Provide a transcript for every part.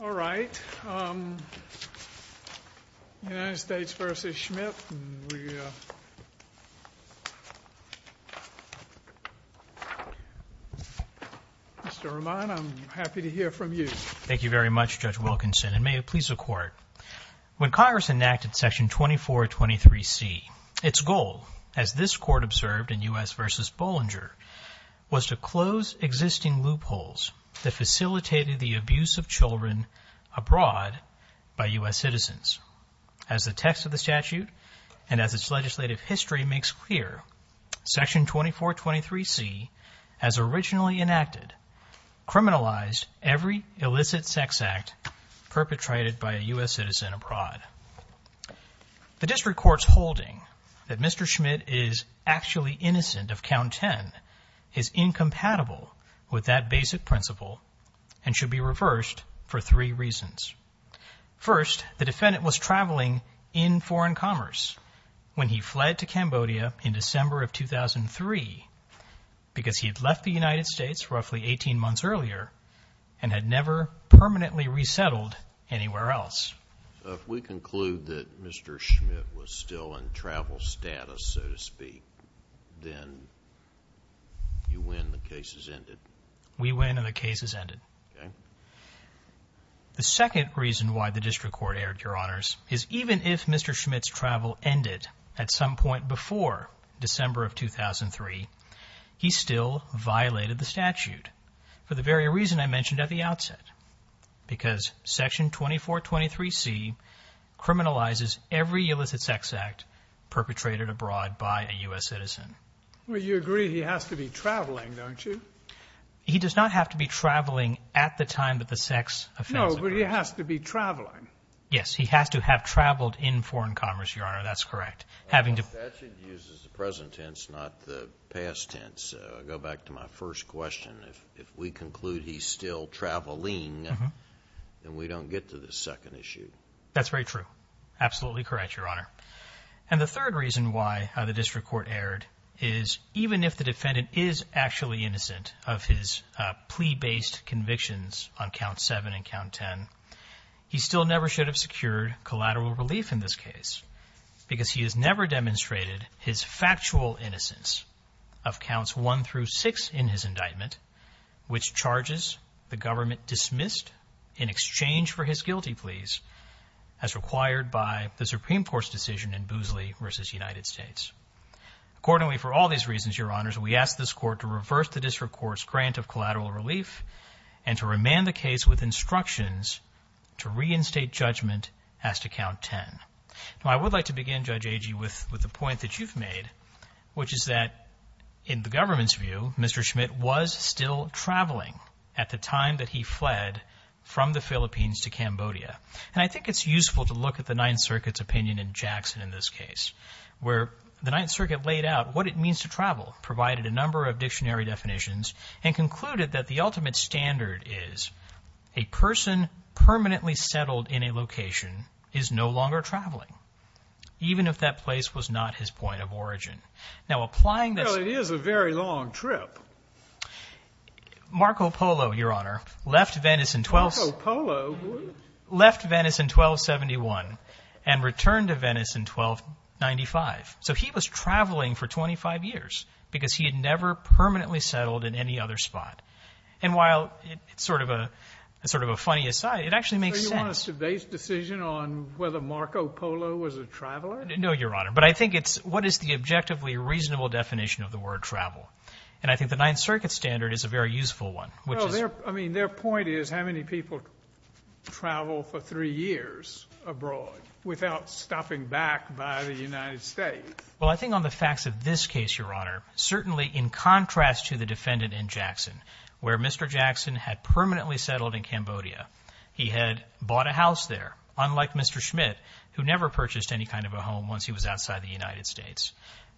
All right. United States v. Schmidt. Mr. Roman, I'm happy to hear from you. Thank you very much, Judge Wilkinson, and may it please the Court. When Congress enacted Section 2423C, its goal, as this Court observed in U.S. v. Bollinger, was to close existing loopholes that facilitated the abuse of children abroad by U.S. citizens. As the text of the statute and as its legislative history makes clear, Section 2423C, as originally enacted, criminalized every illicit sex act perpetrated by a U.S. citizen abroad. The District Court's holding that Mr. Schmidt is actually innocent of Count 10 is incompatible with that basic principle and should be reversed for three reasons. First, the defendant was traveling in foreign commerce when he fled to Cambodia in December of 2003 because he had left the country 18 months earlier and had never permanently resettled anywhere else. So, if we conclude that Mr. Schmidt was still in travel status, so to speak, then you win, the case is ended? We win and the case is ended. Okay. The second reason why the District Court erred, Your Honors, is even if Mr. Schmidt's travel ended at some point before December of 2003, he still violated the statute, for the very reason I mentioned at the outset, because Section 2423C criminalizes every illicit sex act perpetrated abroad by a U.S. citizen. Well, you agree he has to be traveling, don't you? He does not have to be traveling at the time that the sex offense occurred. No, but he has to be traveling. Yes, he has to have traveled in foreign commerce, Your Honor, that's correct. The statute uses the present tense, not the past tense. I'll go back to my first question. If we conclude he's still traveling, then we don't get to the second issue. That's very true. Absolutely correct, Your Honor. And the third reason why the District Court erred is even if the defendant is actually innocent of his plea-based convictions on Count 7 and Count 10, he still never should have secured collateral relief in this case, because he has never demonstrated his factual innocence of Counts 1 through 6 in his indictment, which charges the government dismissed in exchange for his guilty pleas as required by the Supreme Court's decision in Boosley v. United States. Accordingly, for all these reasons, Your Honors, we ask this Court to reverse the District Court's grant of collateral relief and to remand the case with instructions to reinstate judgment as to Count 10. Now, I would like to begin, Judge Agee, with the point that you've made, which is that in the government's view, Mr. Schmidt was still traveling at the time that he fled from the Philippines to Cambodia. And I think it's useful to look at the Ninth Circuit's opinion in Jackson in this case, where the Ninth Circuit laid out what it means to travel, provided a number of dictionary definitions, and concluded that the ultimate standard is a person permanently settled in a location is no longer traveling, even if that place was not his point of origin. Now, applying this — Well, it is a very long trip. Marco Polo, Your Honor, left Venice in 12 — Marco Polo? Left Venice in 1271 and returned to Venice in 1295. So he was traveling for 25 years, because he had never permanently settled in any other spot. And while it's sort of a — sort of a funny aside, it actually makes sense. So you want us to base decision on whether Marco Polo was a traveler? No, Your Honor. But I think it's — what is the objectively reasonable definition of the word travel? And I think the Ninth Circuit standard is a very useful one, which is — No, their — I mean, their point is how many people travel for three years abroad without stopping back by the United States. Well, I think on the facts of this case, Your Honor, certainly in contrast to the defendant in Jackson, where Mr. Jackson had permanently settled in Cambodia. He had bought a house there, unlike Mr. Schmidt, who never purchased any kind of a home once he was outside the United States.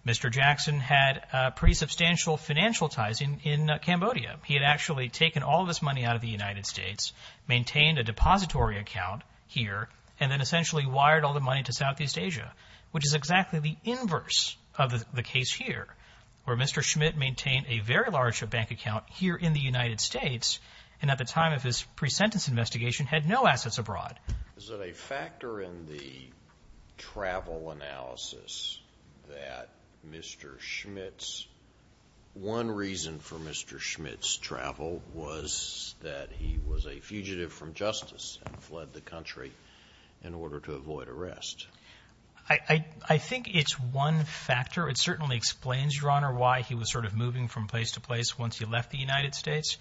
Mr. Jackson had pretty substantial financial ties in Cambodia. He had actually taken all of his money out of the United States, maintained a depository account here, and then essentially wired all the money to Southeast Asia, which is exactly the inverse of the case here, where Mr. Schmidt maintained a very large bank account here in the United States and at the time of his pre-sentence investigation had no assets abroad. Is it a factor in the travel analysis that Mr. Schmidt's — one reason for Mr. Schmidt's travel was that he was a fugitive from justice and fled the country in order to avoid arrest? I think it's one factor. It certainly explains, Your Honor, why he was sort of moving from place to place once he left the United States.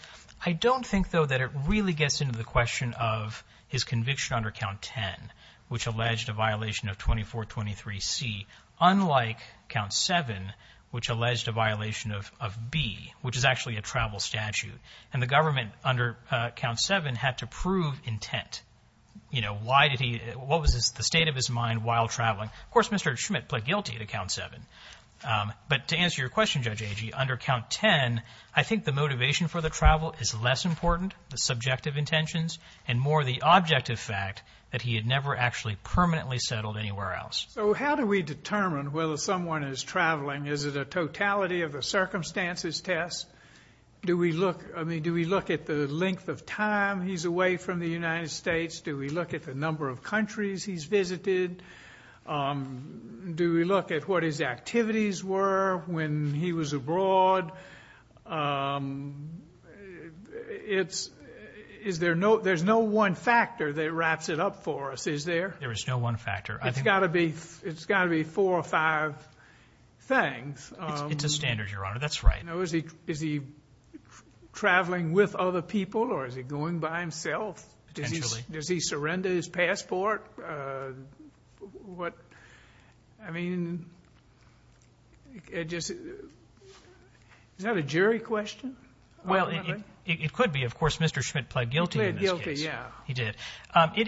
I don't think, though, that it really gets into the question of his conviction under Count 10, which alleged a violation of 2423 C, unlike Count 7, which alleged a violation of B, which is actually a travel statute. And the government under Count 7 had to prove intent. You know, why did he — what was the state of his mind while traveling? Of course, Mr. Schmidt pled guilty to Count 7. But to answer your question, Judge Agee, under Count 10, I think the motivation for the travel is less important, the subjective intentions, and more the objective fact that he had never actually permanently settled anywhere else. So how do we determine whether someone is traveling? Is it a totality of a circumstances test? Do we look — I mean, do we look at the length of time he's away from the United States? Do we look at the number of countries he's visited? Do we look at what his activities were when he was abroad? It's — is there no — there's no one factor that wraps it up for us, is there? There is no one factor. It's got to be — it's got to be four or five things. It's a standard, Your Honor. That's right. Is he traveling with other people, or is he going by himself? Potentially. Does he surrender his passport? What — I mean, it just — is that a jury question? Well, it could be. Of course, Mr. Schmidt pled guilty in this case. He pled guilty, yeah. He did.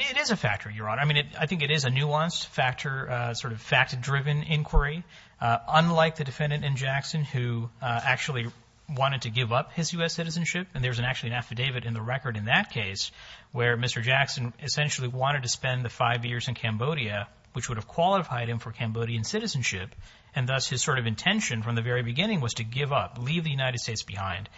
It is a factor, Your Honor. I mean, I think it is a nuanced factor, sort of fact-driven inquiry, unlike the defendant in Jackson who actually wanted to give up his U.S. citizenship. And there's an — actually an affidavit in the record in that case where Mr. Jackson essentially wanted to spend the five years in Cambodia, which would have qualified him for Cambodian citizenship, and thus his sort of intention from the very beginning was to give up, leave the United States behind.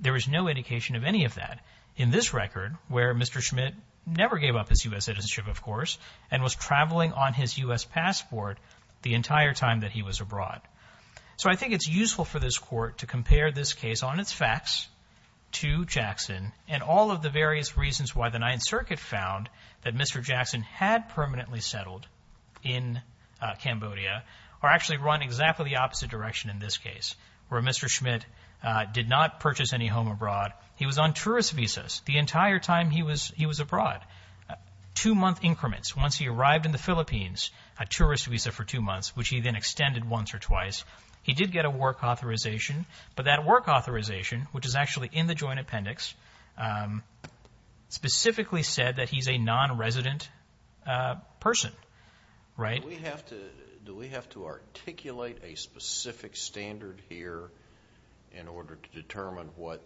There is no indication of any of that in this record, where Mr. Schmidt never gave up his U.S. citizenship, of course, and was traveling on his U.S. passport the entire time that he was abroad. So I think it's useful for this Court to compare this case on its facts to Jackson, and all of the various reasons why the Ninth Circuit found that Mr. Jackson had permanently settled in Cambodia, or actually run exactly the opposite direction in this case, where Mr. Schmidt did not purchase any home abroad. He was on tourist visas the entire time he was abroad, two-month increments. Once he arrived in the Philippines, a tourist visa for two months, which he then extended once or twice, he did get a work authorization. But that work authorization, which is actually in the joint appendix, specifically said that he's a non-resident person, right? Do we have to articulate a specific standard here in order to determine what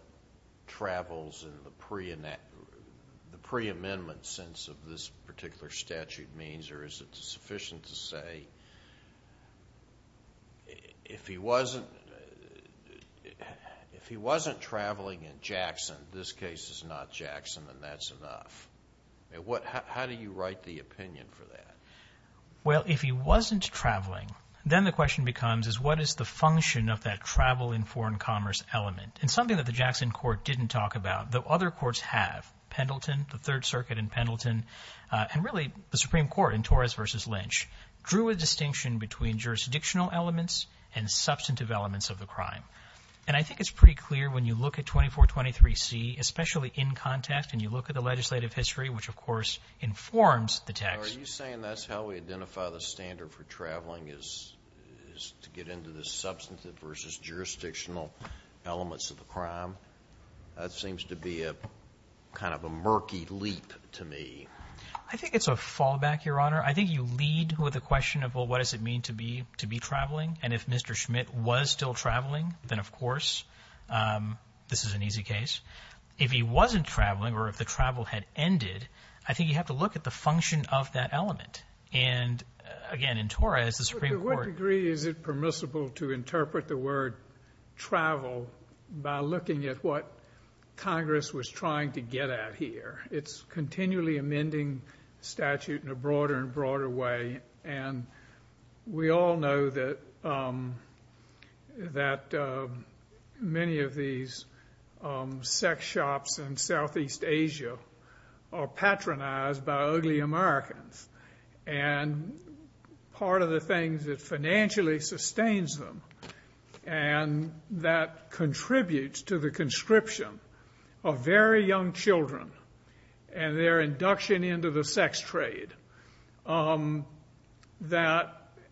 travels in the pre-amendment sense of this particular statute means, or is it sufficient to say, if he wasn't traveling in Jackson, this case is not Jackson, then that's enough? How do you write the opinion for that? Well, if he wasn't traveling, then the question becomes is what is the function of that travel in foreign commerce element? And something that the Jackson Court didn't talk about, though other courts have, Pendleton, the Third Circuit in Pendleton, and really the Supreme Court in Torres versus Lynch, drew a distinction between jurisdictional elements and substantive elements of the crime. And I think it's pretty clear when you look at 2423C, especially in context, and you look at the legislative history, which of course informs the text. Are you saying that's how we identify the standard for traveling is to get into the substantive versus jurisdictional elements of the crime? That seems to be a kind of a murky leap to me. I think it's a fallback, Your Honor. I think you lead with a question of, well, what does it mean to be traveling? And if Mr. Schmidt was still traveling, then of course this is an easy case. If he wasn't traveling or if the travel had ended, I think you have to look at the element. And again, in Torres, the Supreme Court… To what degree is it permissible to interpret the word travel by looking at what Congress was trying to get at here? It's a continually amending statute in a broader and broader way. And we all know that many of these sex shops in Southeast Asia are patronized by ugly Americans. And part of the thing that financially sustains them and that contributes to the conscription of very young children and their induction into the sex trade, and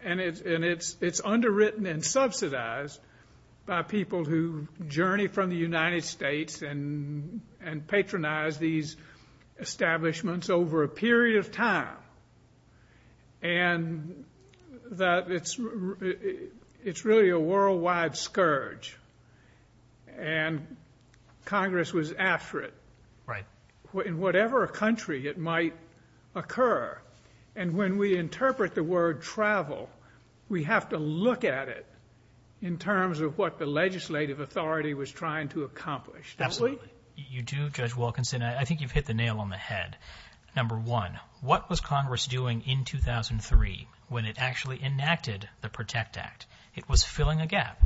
it's underwritten and subsidized by people who journey from the United States and patronize these establishments over a period of time, and that it's really a worldwide scourge, and Congress was after it. Right. In whatever country it might occur. And when we interpret the word travel, we have to look at it in terms of what the legislative authority was trying to accomplish, don't we? Absolutely. You do, Judge Wilkinson. I think you've hit the nail on the head. Number one, what was Congress doing in 2003 when it actually enacted the PROTECT Act? It was filling a gap.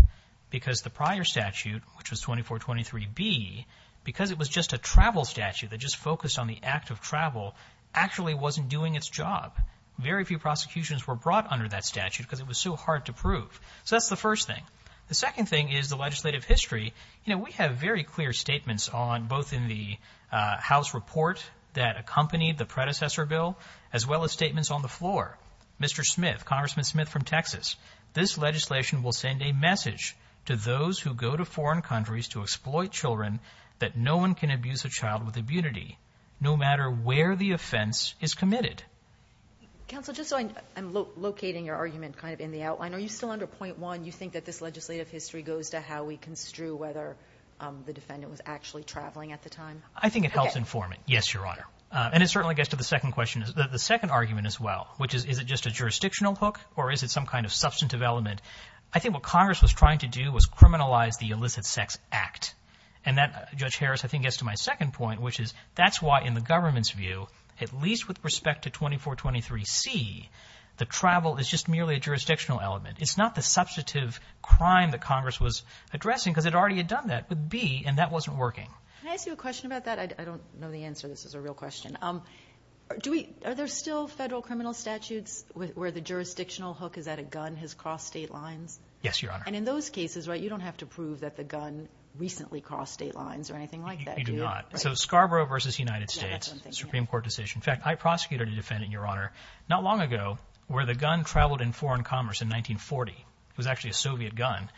Because the prior statute, which was 2423B, because it was just a travel statute that just focused on the act of travel, actually wasn't doing its job. Very few prosecutions were brought under that statute because it was so hard to prove. So that's the first thing. The second thing is the legislative history. You know, we have very clear statements on both in the House report that accompanied the predecessor bill, as well as statements on the floor. Mr. Smith, Congressman Smith from Texas. This legislation will send a message to those who go to foreign countries to exploit children that no one can abuse a child with immunity, no matter where the offense is committed. Counsel, just so I'm locating your argument kind of in the outline, are you still under point one, you think that this legislative history goes to how we construe whether the defendant was actually traveling at the time? I think it helps inform it. Yes, Your Honor. And it certainly gets to the second question, the second argument as well, which is, is it just a jurisdictional hook or is it some kind of substantive element? I think what Congress was trying to do was criminalize the illicit sex act. And that, Judge Harris, I think gets to my second point, which is that's why in the government's view, at least with respect to 2423C, the travel is just merely a jurisdictional element. It's not the substantive crime that Congress was addressing because it already had done that with B and that wasn't working. Can I ask you a question about that? I don't know the answer. This is a real question. Are there still federal criminal statutes where the jurisdictional hook is that a gun has crossed state lines? Yes, Your Honor. And in those cases, right, you don't have to prove that the gun recently crossed state lines or anything like that, do you? You do not. So Scarborough versus United States, Supreme Court decision. In fact, I prosecuted a defendant, Your Honor, not long ago where the gun traveled in foreign commerce in 1940. It was actually a Soviet gun.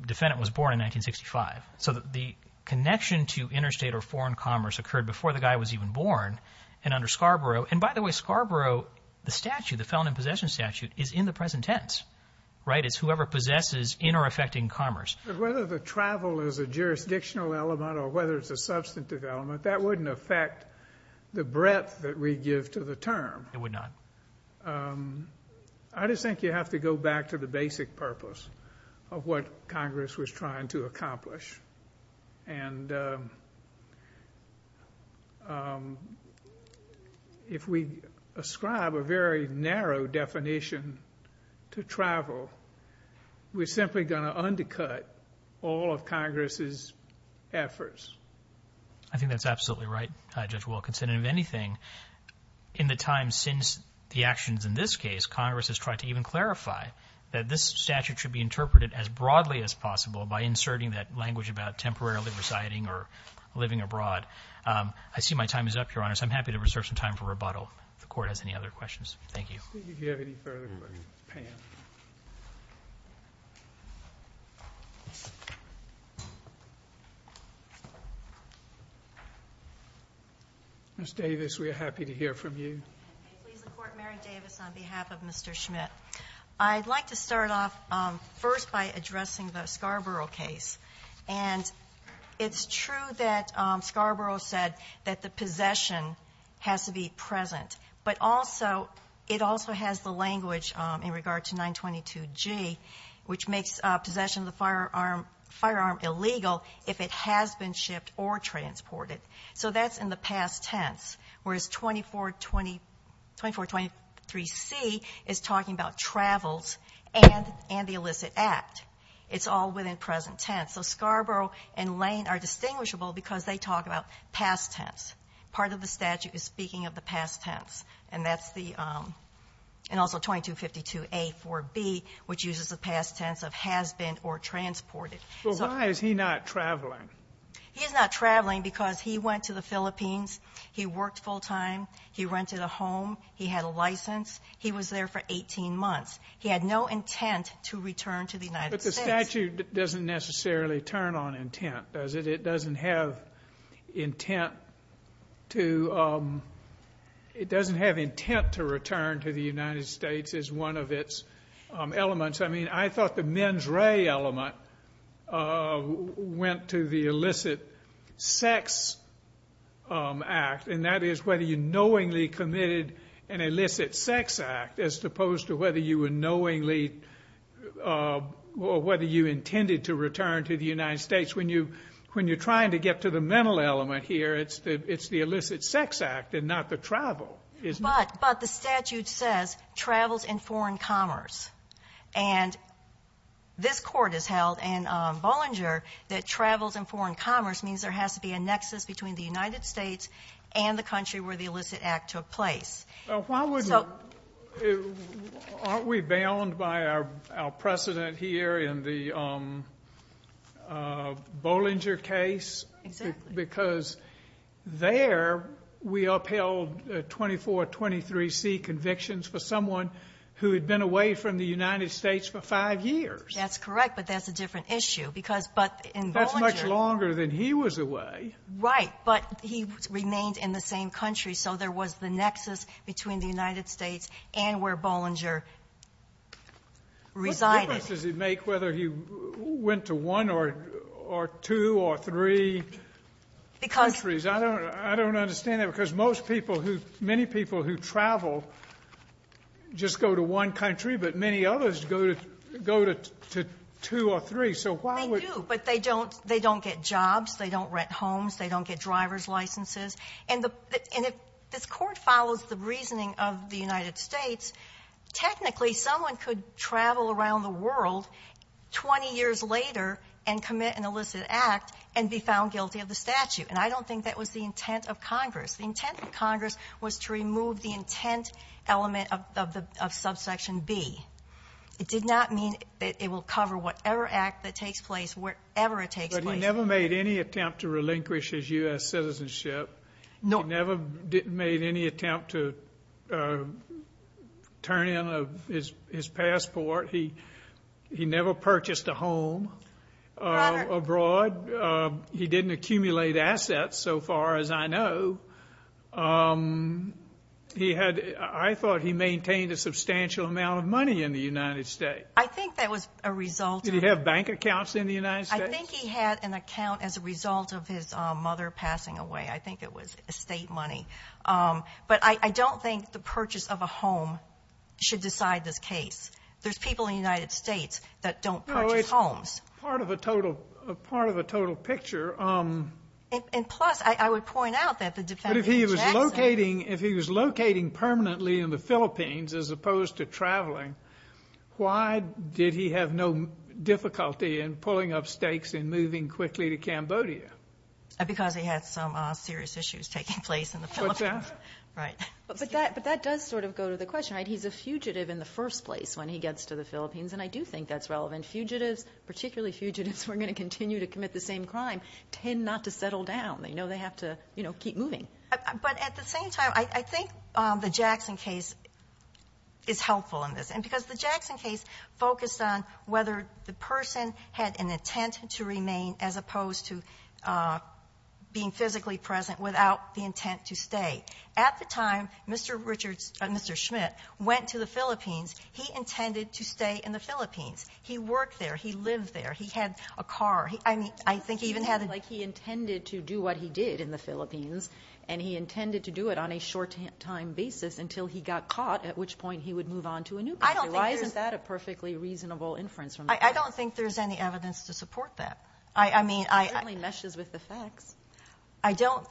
The defendant was born in 1965. So the connection to interstate or foreign commerce occurred before the guy was even born and under Scarborough. And by the way, Scarborough, the statute, the felon in possession statute, is in the present tense, right? It's whoever possesses in or affecting commerce. But whether the travel is a jurisdictional element or whether it's a substantive element, that wouldn't affect the breadth that we give to the term. It would not. I just think you have to go back to the basic purpose of what Congress was trying to accomplish. And if we ascribe a very narrow definition to travel, we're simply going to undercut all of Congress's efforts. I think that's absolutely right, Judge Wilkinson. And if anything, in the time since the actions in this case, Congress has tried to even clarify that this statute should be interpreted as broadly as possible by inserting that language about temporarily residing or living abroad. I see my time is up, Your Honor, so I'm happy to reserve some time for rebuttal if the Court has any other questions. Thank you. Let's see if you have any further questions. Pam. Ms. Davis, we are happy to hear from you. Please support Mary Davis on behalf of Mr. Schmidt. I'd like to start off first by addressing the Scarborough case. And it's true that Scarborough said that the possession has to be present. But also, it also has the language in regard to 922G, which makes possession of the firearm illegal if it has been shipped or transported. So that's in the past tense. Whereas 2423C is talking about travels and the illicit act. It's all within present tense. So Scarborough and Lane are distinguishable because they talk about past tense. Part of the statute is speaking of the past tense. And that's the, and also 2252A-4B, which uses the past tense of has been or transported. So why is he not traveling? He's not traveling because he went to the Philippines. He worked full time. He rented a home. He had a license. He was there for 18 months. He had no intent to return to the United States. But the statute doesn't necessarily turn on intent, does it? It doesn't have intent to, it doesn't have intent to return to the United States as one of its elements. I mean, I thought the mens rea element went to the illicit sex act. And that is whether you knowingly committed an illicit sex act as opposed to whether you were knowingly, or whether you intended to return to the United States. When you're trying to get to the mental element here, it's the illicit sex act and not the travel. But the statute says travels in foreign commerce. And this court has held in Bollinger that travels in foreign commerce means there has to be a nexus between the United States and the country where the illicit act took place. Aren't we bound by our precedent here in the Bollinger case? Because there we upheld 2423C convictions for someone who had been away from the United States for 5 years. That's correct, but that's a different issue. That's much longer than he was away. Right, but he remained in the same country. So there was the nexus between the United States and where Bollinger resided. What difference does it make whether he went to one or two or three countries? I don't understand that because many people who travel just go to one country, but many others go to two or three. They do, but they don't get jobs. They don't rent homes. They don't get driver's licenses. And if this court follows the reasoning of the United States, technically someone could travel around the world 20 years later and commit an illicit act and be found guilty of the statute. And I don't think that was the intent of Congress. The intent of Congress was to remove the intent element of subsection B. It did not mean that it will cover whatever act that takes place wherever it takes place. He never made any attempt to relinquish his U.S. citizenship. He never made any attempt to turn in his passport. He never purchased a home abroad. He didn't accumulate assets, so far as I know. I thought he maintained a substantial amount of money in the United States. I think that was a result of... Did he have bank accounts in the United States? I think he had an account as a result of his mother passing away. I think it was estate money. But I don't think the purchase of a home should decide this case. There's people in the United States that don't purchase homes. It's part of a total picture. And plus, I would point out that the defendant... But if he was locating permanently in the Philippines as opposed to traveling, why did he have no difficulty in pulling up stakes and moving quickly to Cambodia? Because he had some serious issues taking place in the Philippines. But that does sort of go to the question. He's a fugitive in the first place when he gets to the Philippines, and I do think that's relevant. Fugitives, particularly fugitives who are going to continue to commit the same crime, tend not to settle down. They have to keep moving. But at the same time, I think the Jackson case is helpful in this. Because the Jackson case focused on whether the person had an intent to remain as opposed to being physically present without the intent to stay. At the time, Mr. Schmidt went to the Philippines. He intended to stay in the Philippines. He worked there. He lived there. He had a car. I think he even had a... It seems like he intended to do what he did in the Philippines, and he intended to do it on a short-time basis until he got caught, at which point he would move on to a new country. Why isn't that a perfectly reasonable inference? I don't think there's any evidence to support that. I mean, I... It only meshes with the facts. I don't...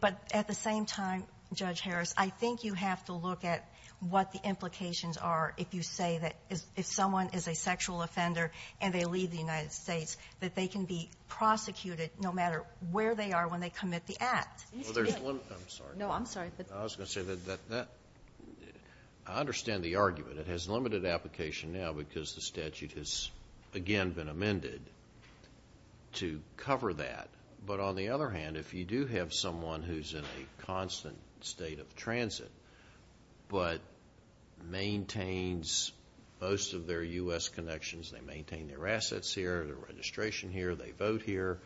But at the same time, Judge Harris, I think you have to look at what the implications are if you say that if someone is a sexual offender and they leave the United States, that they can be prosecuted no matter where they are when they commit the act. I'm sorry. No, I'm sorry. I was going to say that I understand the argument. It has limited application now because the statute has, again, been amended to cover that. But on the other hand, if you do have someone who's in a constant state of transit but maintains most of their U.S. connections, they maintain their assets here, their registration here, they vote here,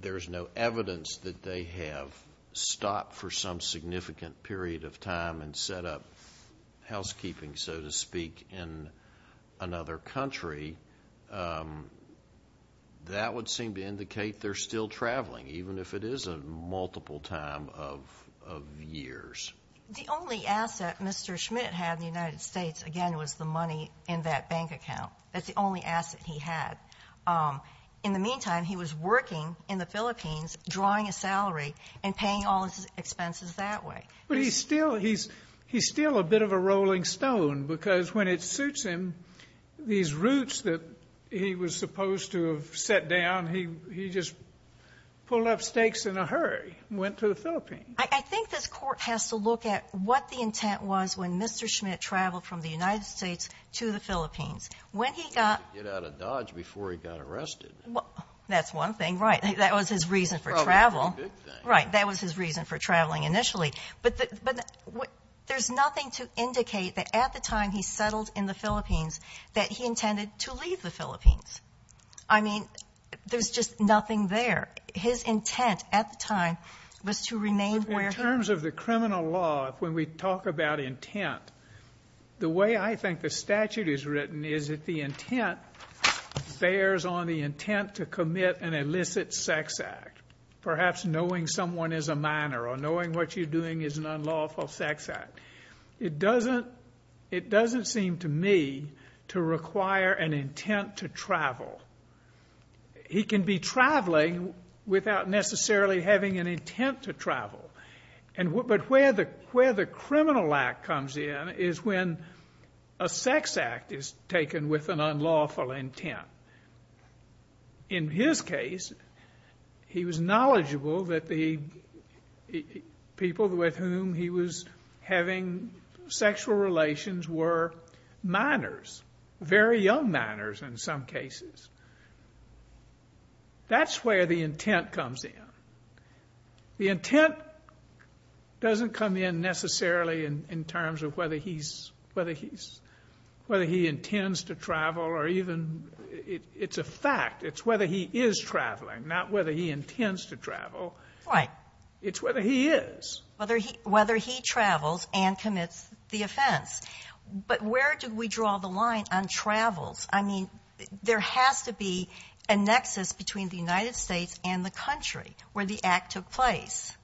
there's no evidence that they have stopped for some significant period of time and set up housekeeping, so to speak, in another country, that would seem to indicate they're still traveling, even if it is a multiple time of years. The only asset Mr. Schmidt had in the United States, again, was the money in that bank account. That's the only asset he had. In the meantime, he was working in the Philippines, drawing a salary and paying all his expenses that way. But he's still a bit of a rolling stone because when it suits him, these routes that he was supposed to have set down, he just pulled up stakes in a hurry and went to the Philippines. I think this Court has to look at what the intent was when Mr. Schmidt traveled from the United States to the Philippines. When he got... He had to get out of Dodge before he got arrested. That's one thing, right. That was his reason for travel. Right, that was his reason for traveling initially. But there's nothing to indicate that at the time he settled in the Philippines, that he intended to leave the Philippines. I mean, there's just nothing there. His intent at the time was to remain where he... In terms of the criminal law, when we talk about intent, the way I think the statute is written is that the intent bears on the intent to commit an illicit sex act. Perhaps knowing someone is a minor or knowing what you're doing is an unlawful sex act. It doesn't... It doesn't seem to me to require an intent to travel. He can be traveling without necessarily having an intent to travel. But where the criminal act comes in is when a sex act is taken with an unlawful intent. In his case, he was knowledgeable that the people with whom he was having sexual relations were minors, very young minors in some cases. That's where the intent comes in. The intent doesn't come in necessarily in terms of whether he's... whether he intends to travel or even... It's a fact. It's whether he is traveling, not whether he intends to travel. It's whether he is. Whether he travels and commits the offense. But where do we draw the line on travels? I mean, there has to be a nexus between the United States and the country. Where the act took place.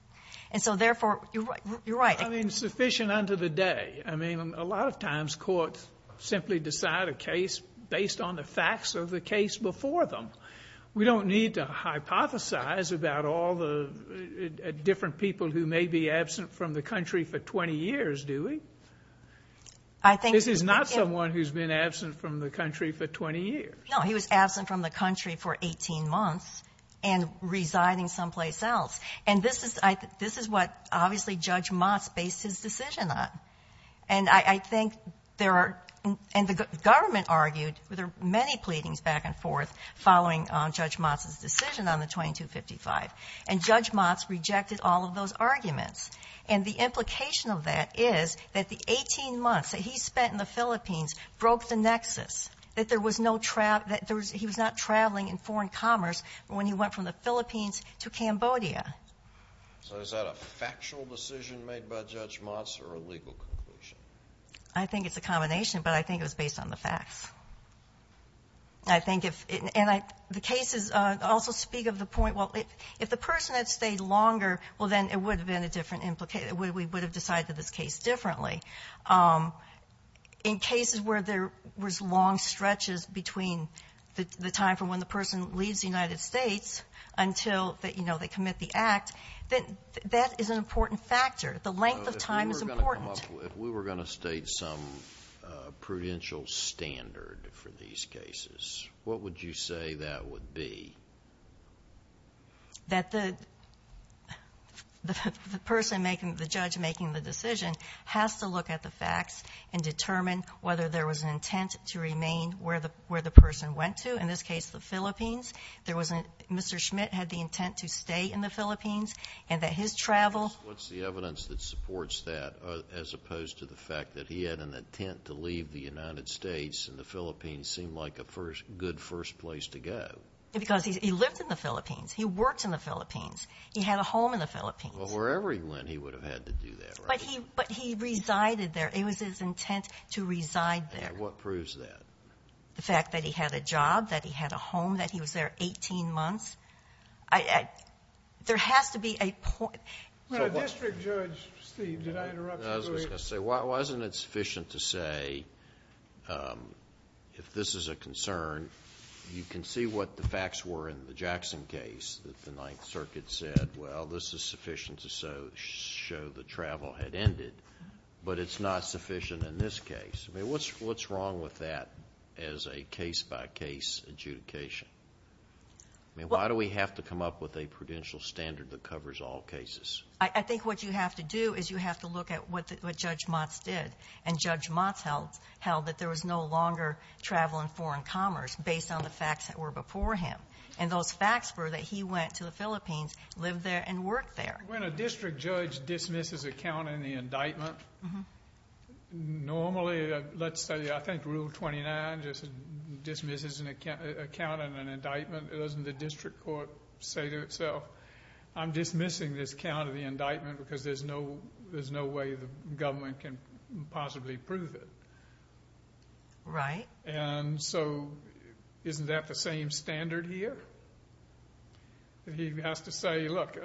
And so, therefore, you're right. I mean, sufficient unto the day. I mean, a lot of times courts simply decide a case based on the facts of the case before them. We don't need to hypothesize about all the different people who may be absent from the country for 20 years, do we? I think... This is not someone who's been absent from the country for 20 years. No, he was absent from the country for 18 months and residing someplace else. And this is what, obviously, Judge Motz based his decision on. And I think there are... And the government argued... There were many pleadings back and forth following Judge Motz's decision on the 2255. And Judge Motz rejected all of those arguments. And the implication of that is that the 18 months that he spent in the Philippines broke the nexus. That there was no travel... He was not traveling in foreign commerce when he went from the Philippines to Cambodia. So is that a factual decision made by Judge Motz or a legal conclusion? I think it's a combination, but I think it was based on the facts. I think if... And the cases also speak of the point... Well, if the person had stayed longer, well, then it would have been a different implication. We would have decided this case differently. In cases where there was long stretches between the time from when the person leaves the United States until they commit the act, that is an important factor. The length of time is important. If we were going to state some prudential standard for these cases, what would you say that would be? That the... The person making... The judge making the decision has to look at the facts and determine whether there was an intent to remain where the person went to. In this case, the Philippines. Mr. Schmidt had the intent to stay in the Philippines and that his travel... What's the evidence that supports that as opposed to the fact that he had an intent to leave the United States and the Philippines seemed like a good first place to go? Because he lived in the Philippines. He worked in the Philippines. He had a home in the Philippines. Wherever he went, he would have had to do that, right? But he resided there. It was his intent to reside there. And what proves that? The fact that he had a job, that he had a home, that he was there 18 months. I... There has to be a point... Mr. Judge, Steve, did I interrupt you? I was just going to say, wasn't it sufficient to say if this is a concern, you can see what the facts were in the Jackson case that the Ninth Circuit said, well, this is sufficient to show that travel had ended, but it's not sufficient in this case. I mean, what's wrong with that as a case-by-case adjudication? I mean, why do we have to come up with a prudential standard that covers all cases? I think what you have to do is you have to look at what Judge Motz did. And Judge Motz held that there was no longer travel and foreign commerce based on the facts that were before him. And those facts were that he went to the Philippines, lived there, and worked there. When a district judge dismisses a count in the indictment, normally, let's say, I think Rule 29 just dismisses a count in an indictment, doesn't the district court say to itself, I'm dismissing this count of the indictment because there's no way the government can possibly prove it. Right. And so, isn't that the same standard here? He has to say, look,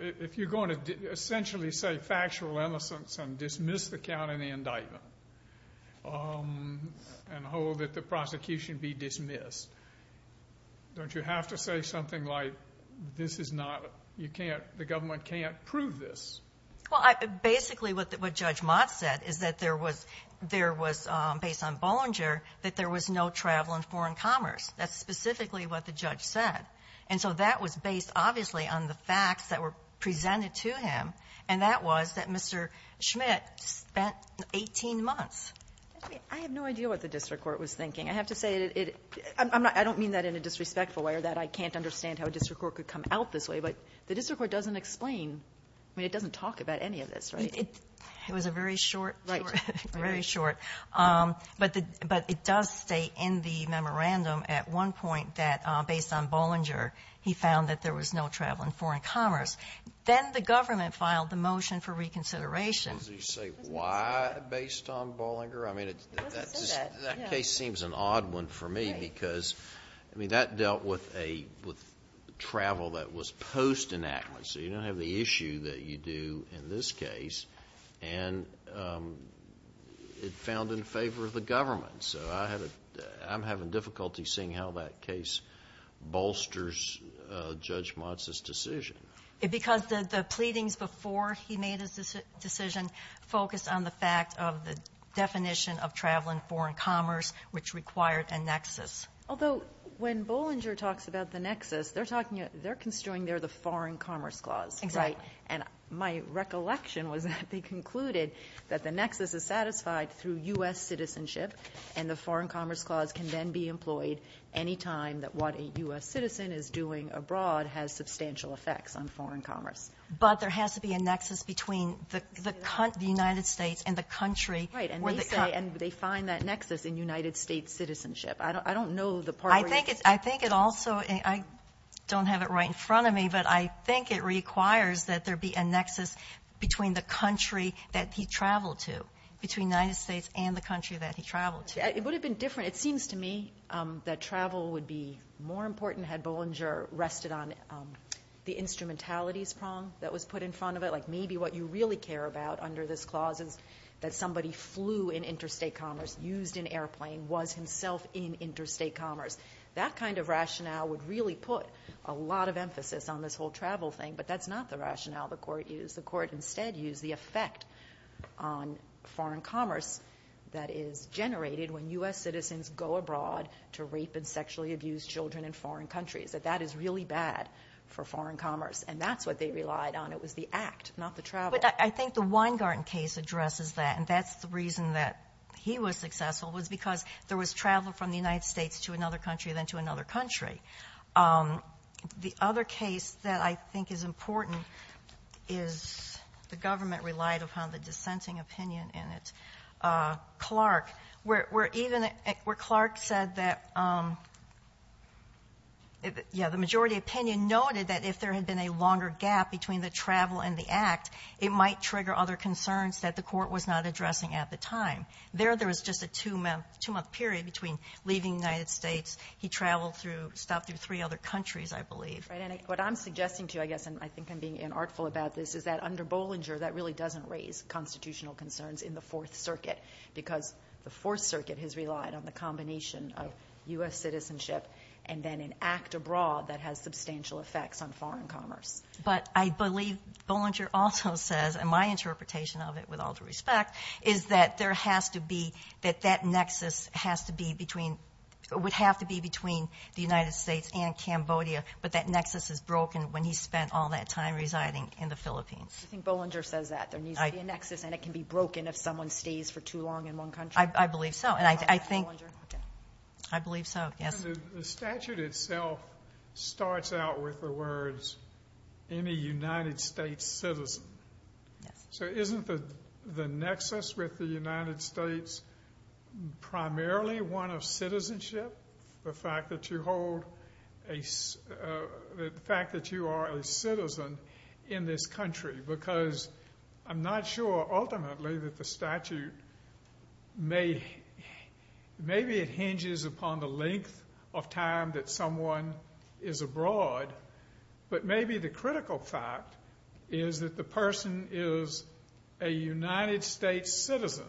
if you're going to essentially say factual innocence and dismiss the count in the indictment and hold that the prosecution be dismissed, don't you have to say something like this is not, the government can't prove this? Well, basically what Judge Motz said is that there was based on Bollinger that there was no travel and foreign commerce. That's specifically what the judge said. And so that was based, obviously, on the facts that were presented to him. And that was that Mr. Schmidt spent 18 months. I have no idea what the district court was thinking. I have to say, I don't mean that in a disrespectful way or that I can't understand how a district court could come out this way, but the district court doesn't explain, I mean it doesn't talk about any of this, right? It was a very short, very short. But it does state in the memorandum at one point that based on Bollinger, he found that there was no travel and foreign commerce. Then the government filed the motion for reconsideration. Does he say why based on Bollinger? I mean that case seems an odd one for me because that dealt with travel that was post enactment. So you don't have the issue that you do in this case. And it found in favor of the government. So I'm having difficulty seeing how that case bolsters Judge Motz's decision. Because the pleadings before he made his decision focused on the fact of the definition of travel and foreign commerce, which required a nexus. Although when Bollinger talks about the nexus, they're talking, they're construing there the foreign commerce clause. Exactly. My recollection was that they concluded that the nexus is satisfied through U.S. citizenship and the foreign commerce clause can then be employed any time that what a U.S. citizen is doing abroad has substantial effects on foreign commerce. But there has to be a nexus between the United States and the country. Right. And they say, and they find that nexus in United States citizenship. I don't know the part where you... I think it also, I don't have it right in front of me, but I think it requires that there be a nexus between the country that he traveled to, between the United States and the country that he traveled to. It would have been different, it seems to me that travel would be more important had Bollinger rested on the instrumentalities prong that was put in front of it, like maybe what you really care about under this clause is that somebody flew in interstate commerce, used an airplane, was himself in interstate commerce. That kind of rationale would really put a lot of emphasis on this whole travel thing, but that's not the rationale the court used. The court instead used the effect on foreign commerce that is generated when U.S. citizens go abroad to rape and sexually abuse children in foreign countries, that that is really bad for foreign commerce, and that's what they relied on. It was the act, not the travel. But I think the Weingarten case addresses that, and that's the reason that he was successful, was because there was travel from the United States to another country, then to another country. The other case that I think is important is the government relied upon the dissenting opinion in it. Clark, where even where Clark said that yeah, the majority opinion noted that if there had been a longer gap between the travel and the act, it might trigger other concerns that the court was not addressing at the time. There, there was just a two-month period between leaving the United States, he traveled through, stopped through three other countries, I think I'm being unartful about this, is that under Bollinger, that really doesn't raise constitutional concerns in the Fourth Circuit because the Fourth Circuit has relied on the combination of U.S. citizenship and then an act abroad that has substantial effects on foreign commerce. But I believe Bollinger also says, and my interpretation of it, with all due respect, is that there has to be, that that nexus has to be between, would have to be between the United States and Cambodia, but that nexus is broken when he spent all that time residing in the Philippines. I think Bollinger says that, there needs to be a nexus and it can be broken if someone stays for too long in one country. I believe so, and I think, I believe so, yes. The statute itself starts out with the words any United States citizen. So isn't the nexus with the United States primarily one of citizenship, the fact that you are enrolled, the fact that you are a citizen in this country because I'm not sure ultimately that the statute may, maybe it hinges upon the length of time that someone is abroad, but maybe the critical fact is that the person is a United States citizen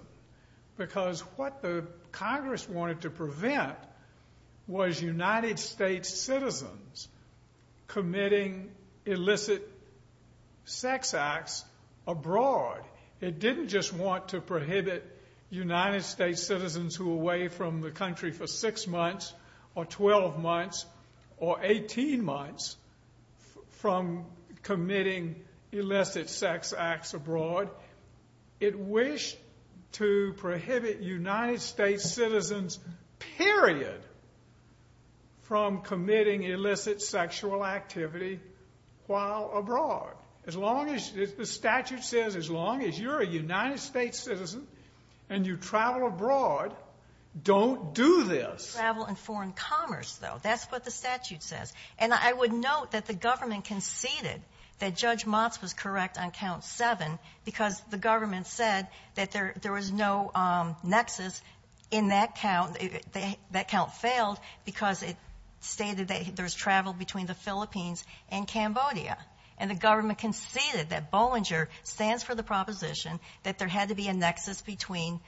because what the Congress wanted to do was prohibit United States citizens committing illicit sex acts abroad. It didn't just want to prohibit United States citizens who were away from the country for six months or 12 months or 18 months from committing illicit sex acts abroad. It wished to prohibit United States citizens, period, from committing illicit sexual activity while abroad. The statute says as long as you're a United States citizen and you travel abroad, don't do this. Travel and foreign commerce though, that's what the statute says. I would note that the government conceded that Judge Motz was correct on count seven because the government said that there was no nexus in that count. That count failed because it stated that there's travel between the Philippines and Cambodia. And the government conceded that Bollinger stands for the proposition that there had to be a nexus between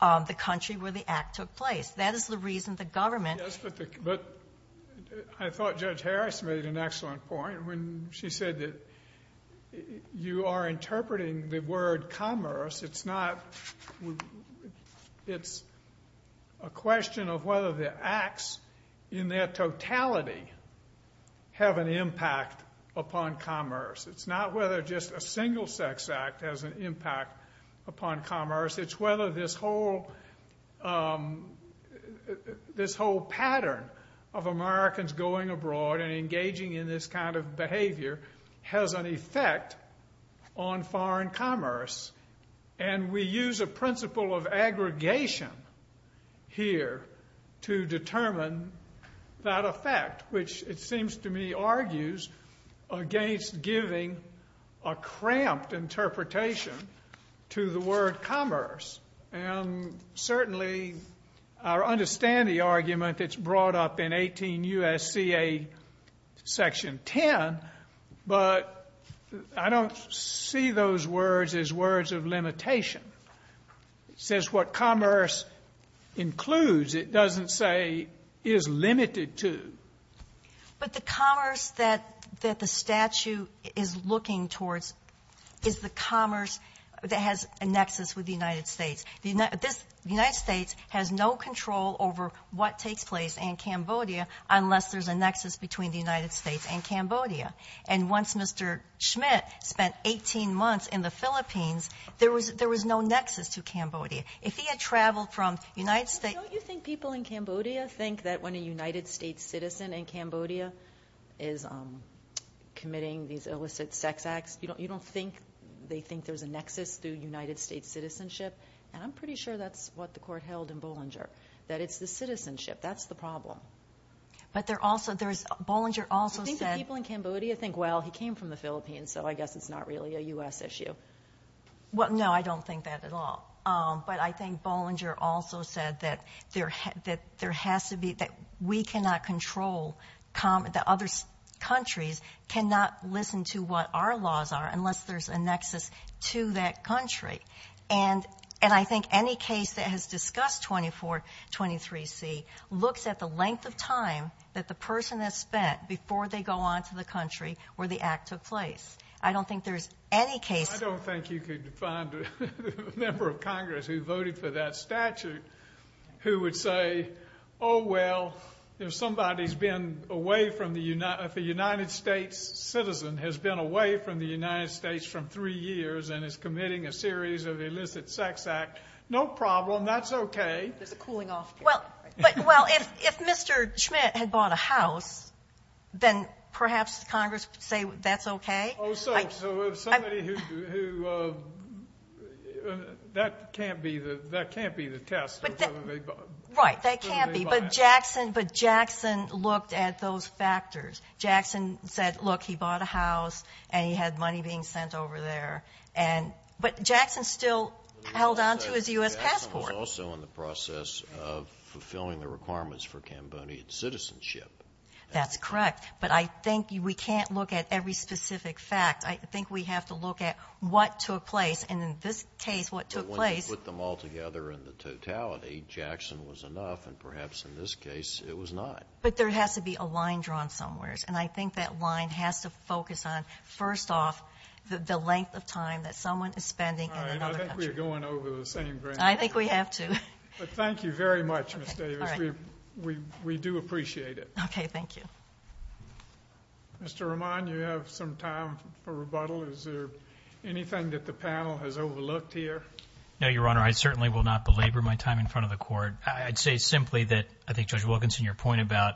the country where the act took place. That is the reason the government... Yes, but I thought Judge Harris made an excellent point when she said that you are interpreting the word commerce. It's not... It's a question of whether the acts in their totality have an impact upon commerce. It's not whether just a single sex act has an impact upon commerce. It's whether this whole pattern of Americans going abroad and engaging in this kind of behavior has an effect on commerce. And we use a principle of aggregation here to determine that effect, which it seems to me argues against giving a cramped interpretation to the word commerce. Certainly, I understand the argument that's brought up in 18 U.S.C.A. Section 10, but I don't see those words as words of limitation. It says what commerce includes, it doesn't say is limited to. But the commerce that the statute is looking towards is the commerce that has a nexus with the United States. The United States has no control over what takes place in Cambodia unless there's a nexus between the United States and Cambodia. And once Mr. Schmidt spent 18 months in the Philippines, there was no nexus to Cambodia. If he had traveled from the United States... Don't you think people in Cambodia think that when a United States citizen in Cambodia is committing these illicit sex acts, you don't think they think there's a nexus through United States citizenship? And I'm pretty sure that's what the court held in Bollinger, that it's the citizenship that's the problem. But there also, there's Bollinger also said... Do you think the people in Cambodia think, well, he came from the Philippines, so I guess it's not really a U.S. issue? Well, no, I don't think that at all. But I think Bollinger also said that there has to be, that we cannot control the other countries, cannot listen to what our laws are unless there's a nexus to that country. And I think any case that has discussed 2423C looks at the length of time that the person has spent before they go on to the country where the act took place. I don't think there's any case... I don't think you could find a member of Congress who voted for that statute who would say, oh, well, if somebody's been away from the United... if a United States citizen has been away from the United States from three years and is committing a series of illicit sex acts, no problem, that's okay. There's a cooling off period. Well, if Mr. Schmidt had bought a house, then perhaps Congress would say that's okay? Oh, so if somebody who... that can't be the test of whether they bought it. Right, that can't be. But Jackson looked at those factors. Jackson said, look, he bought a house and he had money being sent over there. But Jackson still held on to his U.S. passport. Jackson was also in the process of fulfilling the requirements for Cambodian citizenship. That's correct, but I think we can't look at every specific fact. I think we have to look at what took place, and in this case, what took place... But once you put them all together in the totality, Jackson was enough, and perhaps in this case, it was not. But there has to be a line drawn somewhere, and I think that line has to focus on, first off, the length of time that someone is spending in another country. I think we're going over the same brink. I think we have to. Thank you very much, Ms. Davis. We do appreciate it. Okay, thank you. Mr. Roman, you have some time for rebuttal. Is there anything that the panel has overlooked here? No, Your Honor. I certainly will not belabor my time in front of the Court. I'd say simply that I think Judge Wilkinson, your point about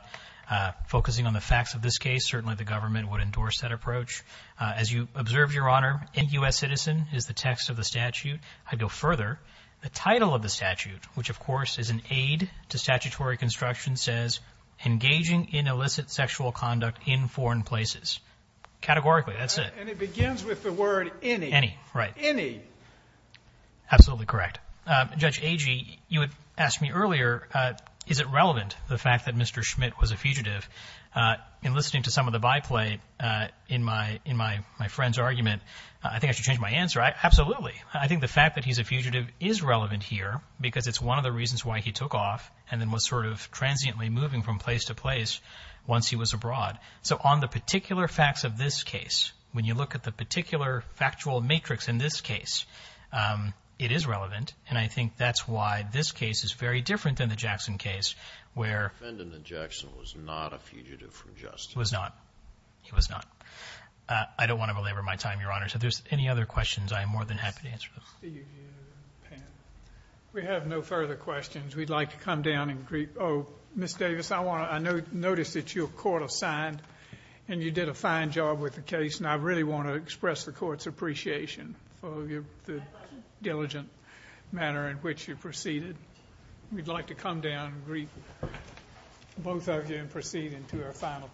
focusing on the facts of this case, certainly the government would endorse that approach. As you observed, Your Honor, Any U.S. Citizen is the text of the statute. I'd go further. The title of the statute, which, of course, is an aid to statutory construction, says, Engaging in Illicit Sexual Conduct in Foreign Places. Categorically, that's it. And it begins with the word any. Any, right. Any. Absolutely correct. Judge Agee, you had asked me earlier, is it relevant, the fact that Mr. Schmidt was a fugitive? In listening to some of the byplay in my friend's argument, I think I should change my answer. Absolutely. I think the fact that he's a fugitive is relevant here because it's one of the reasons why he took off and then was sort of transiently moving from place to place once he was abroad. So on the particular facts of this case, when you look at the particular factual matrix in this case, it is relevant, and I think that's why this case is very different than the Jackson case where... The defendant in Jackson was not a fugitive from justice. He was not. He was not. I don't want to belabor my time, Your Honor. If there's any other questions, I am more than happy to answer them. We have no further questions. We'd like to come down and greet... Oh, Ms. Davis, I want to notice that your court assigned and you did a fine job with the case, and I really want to express the court's appreciation of the diligent manner in which you proceeded. We'd like to come down and greet both of you and proceed into our final case.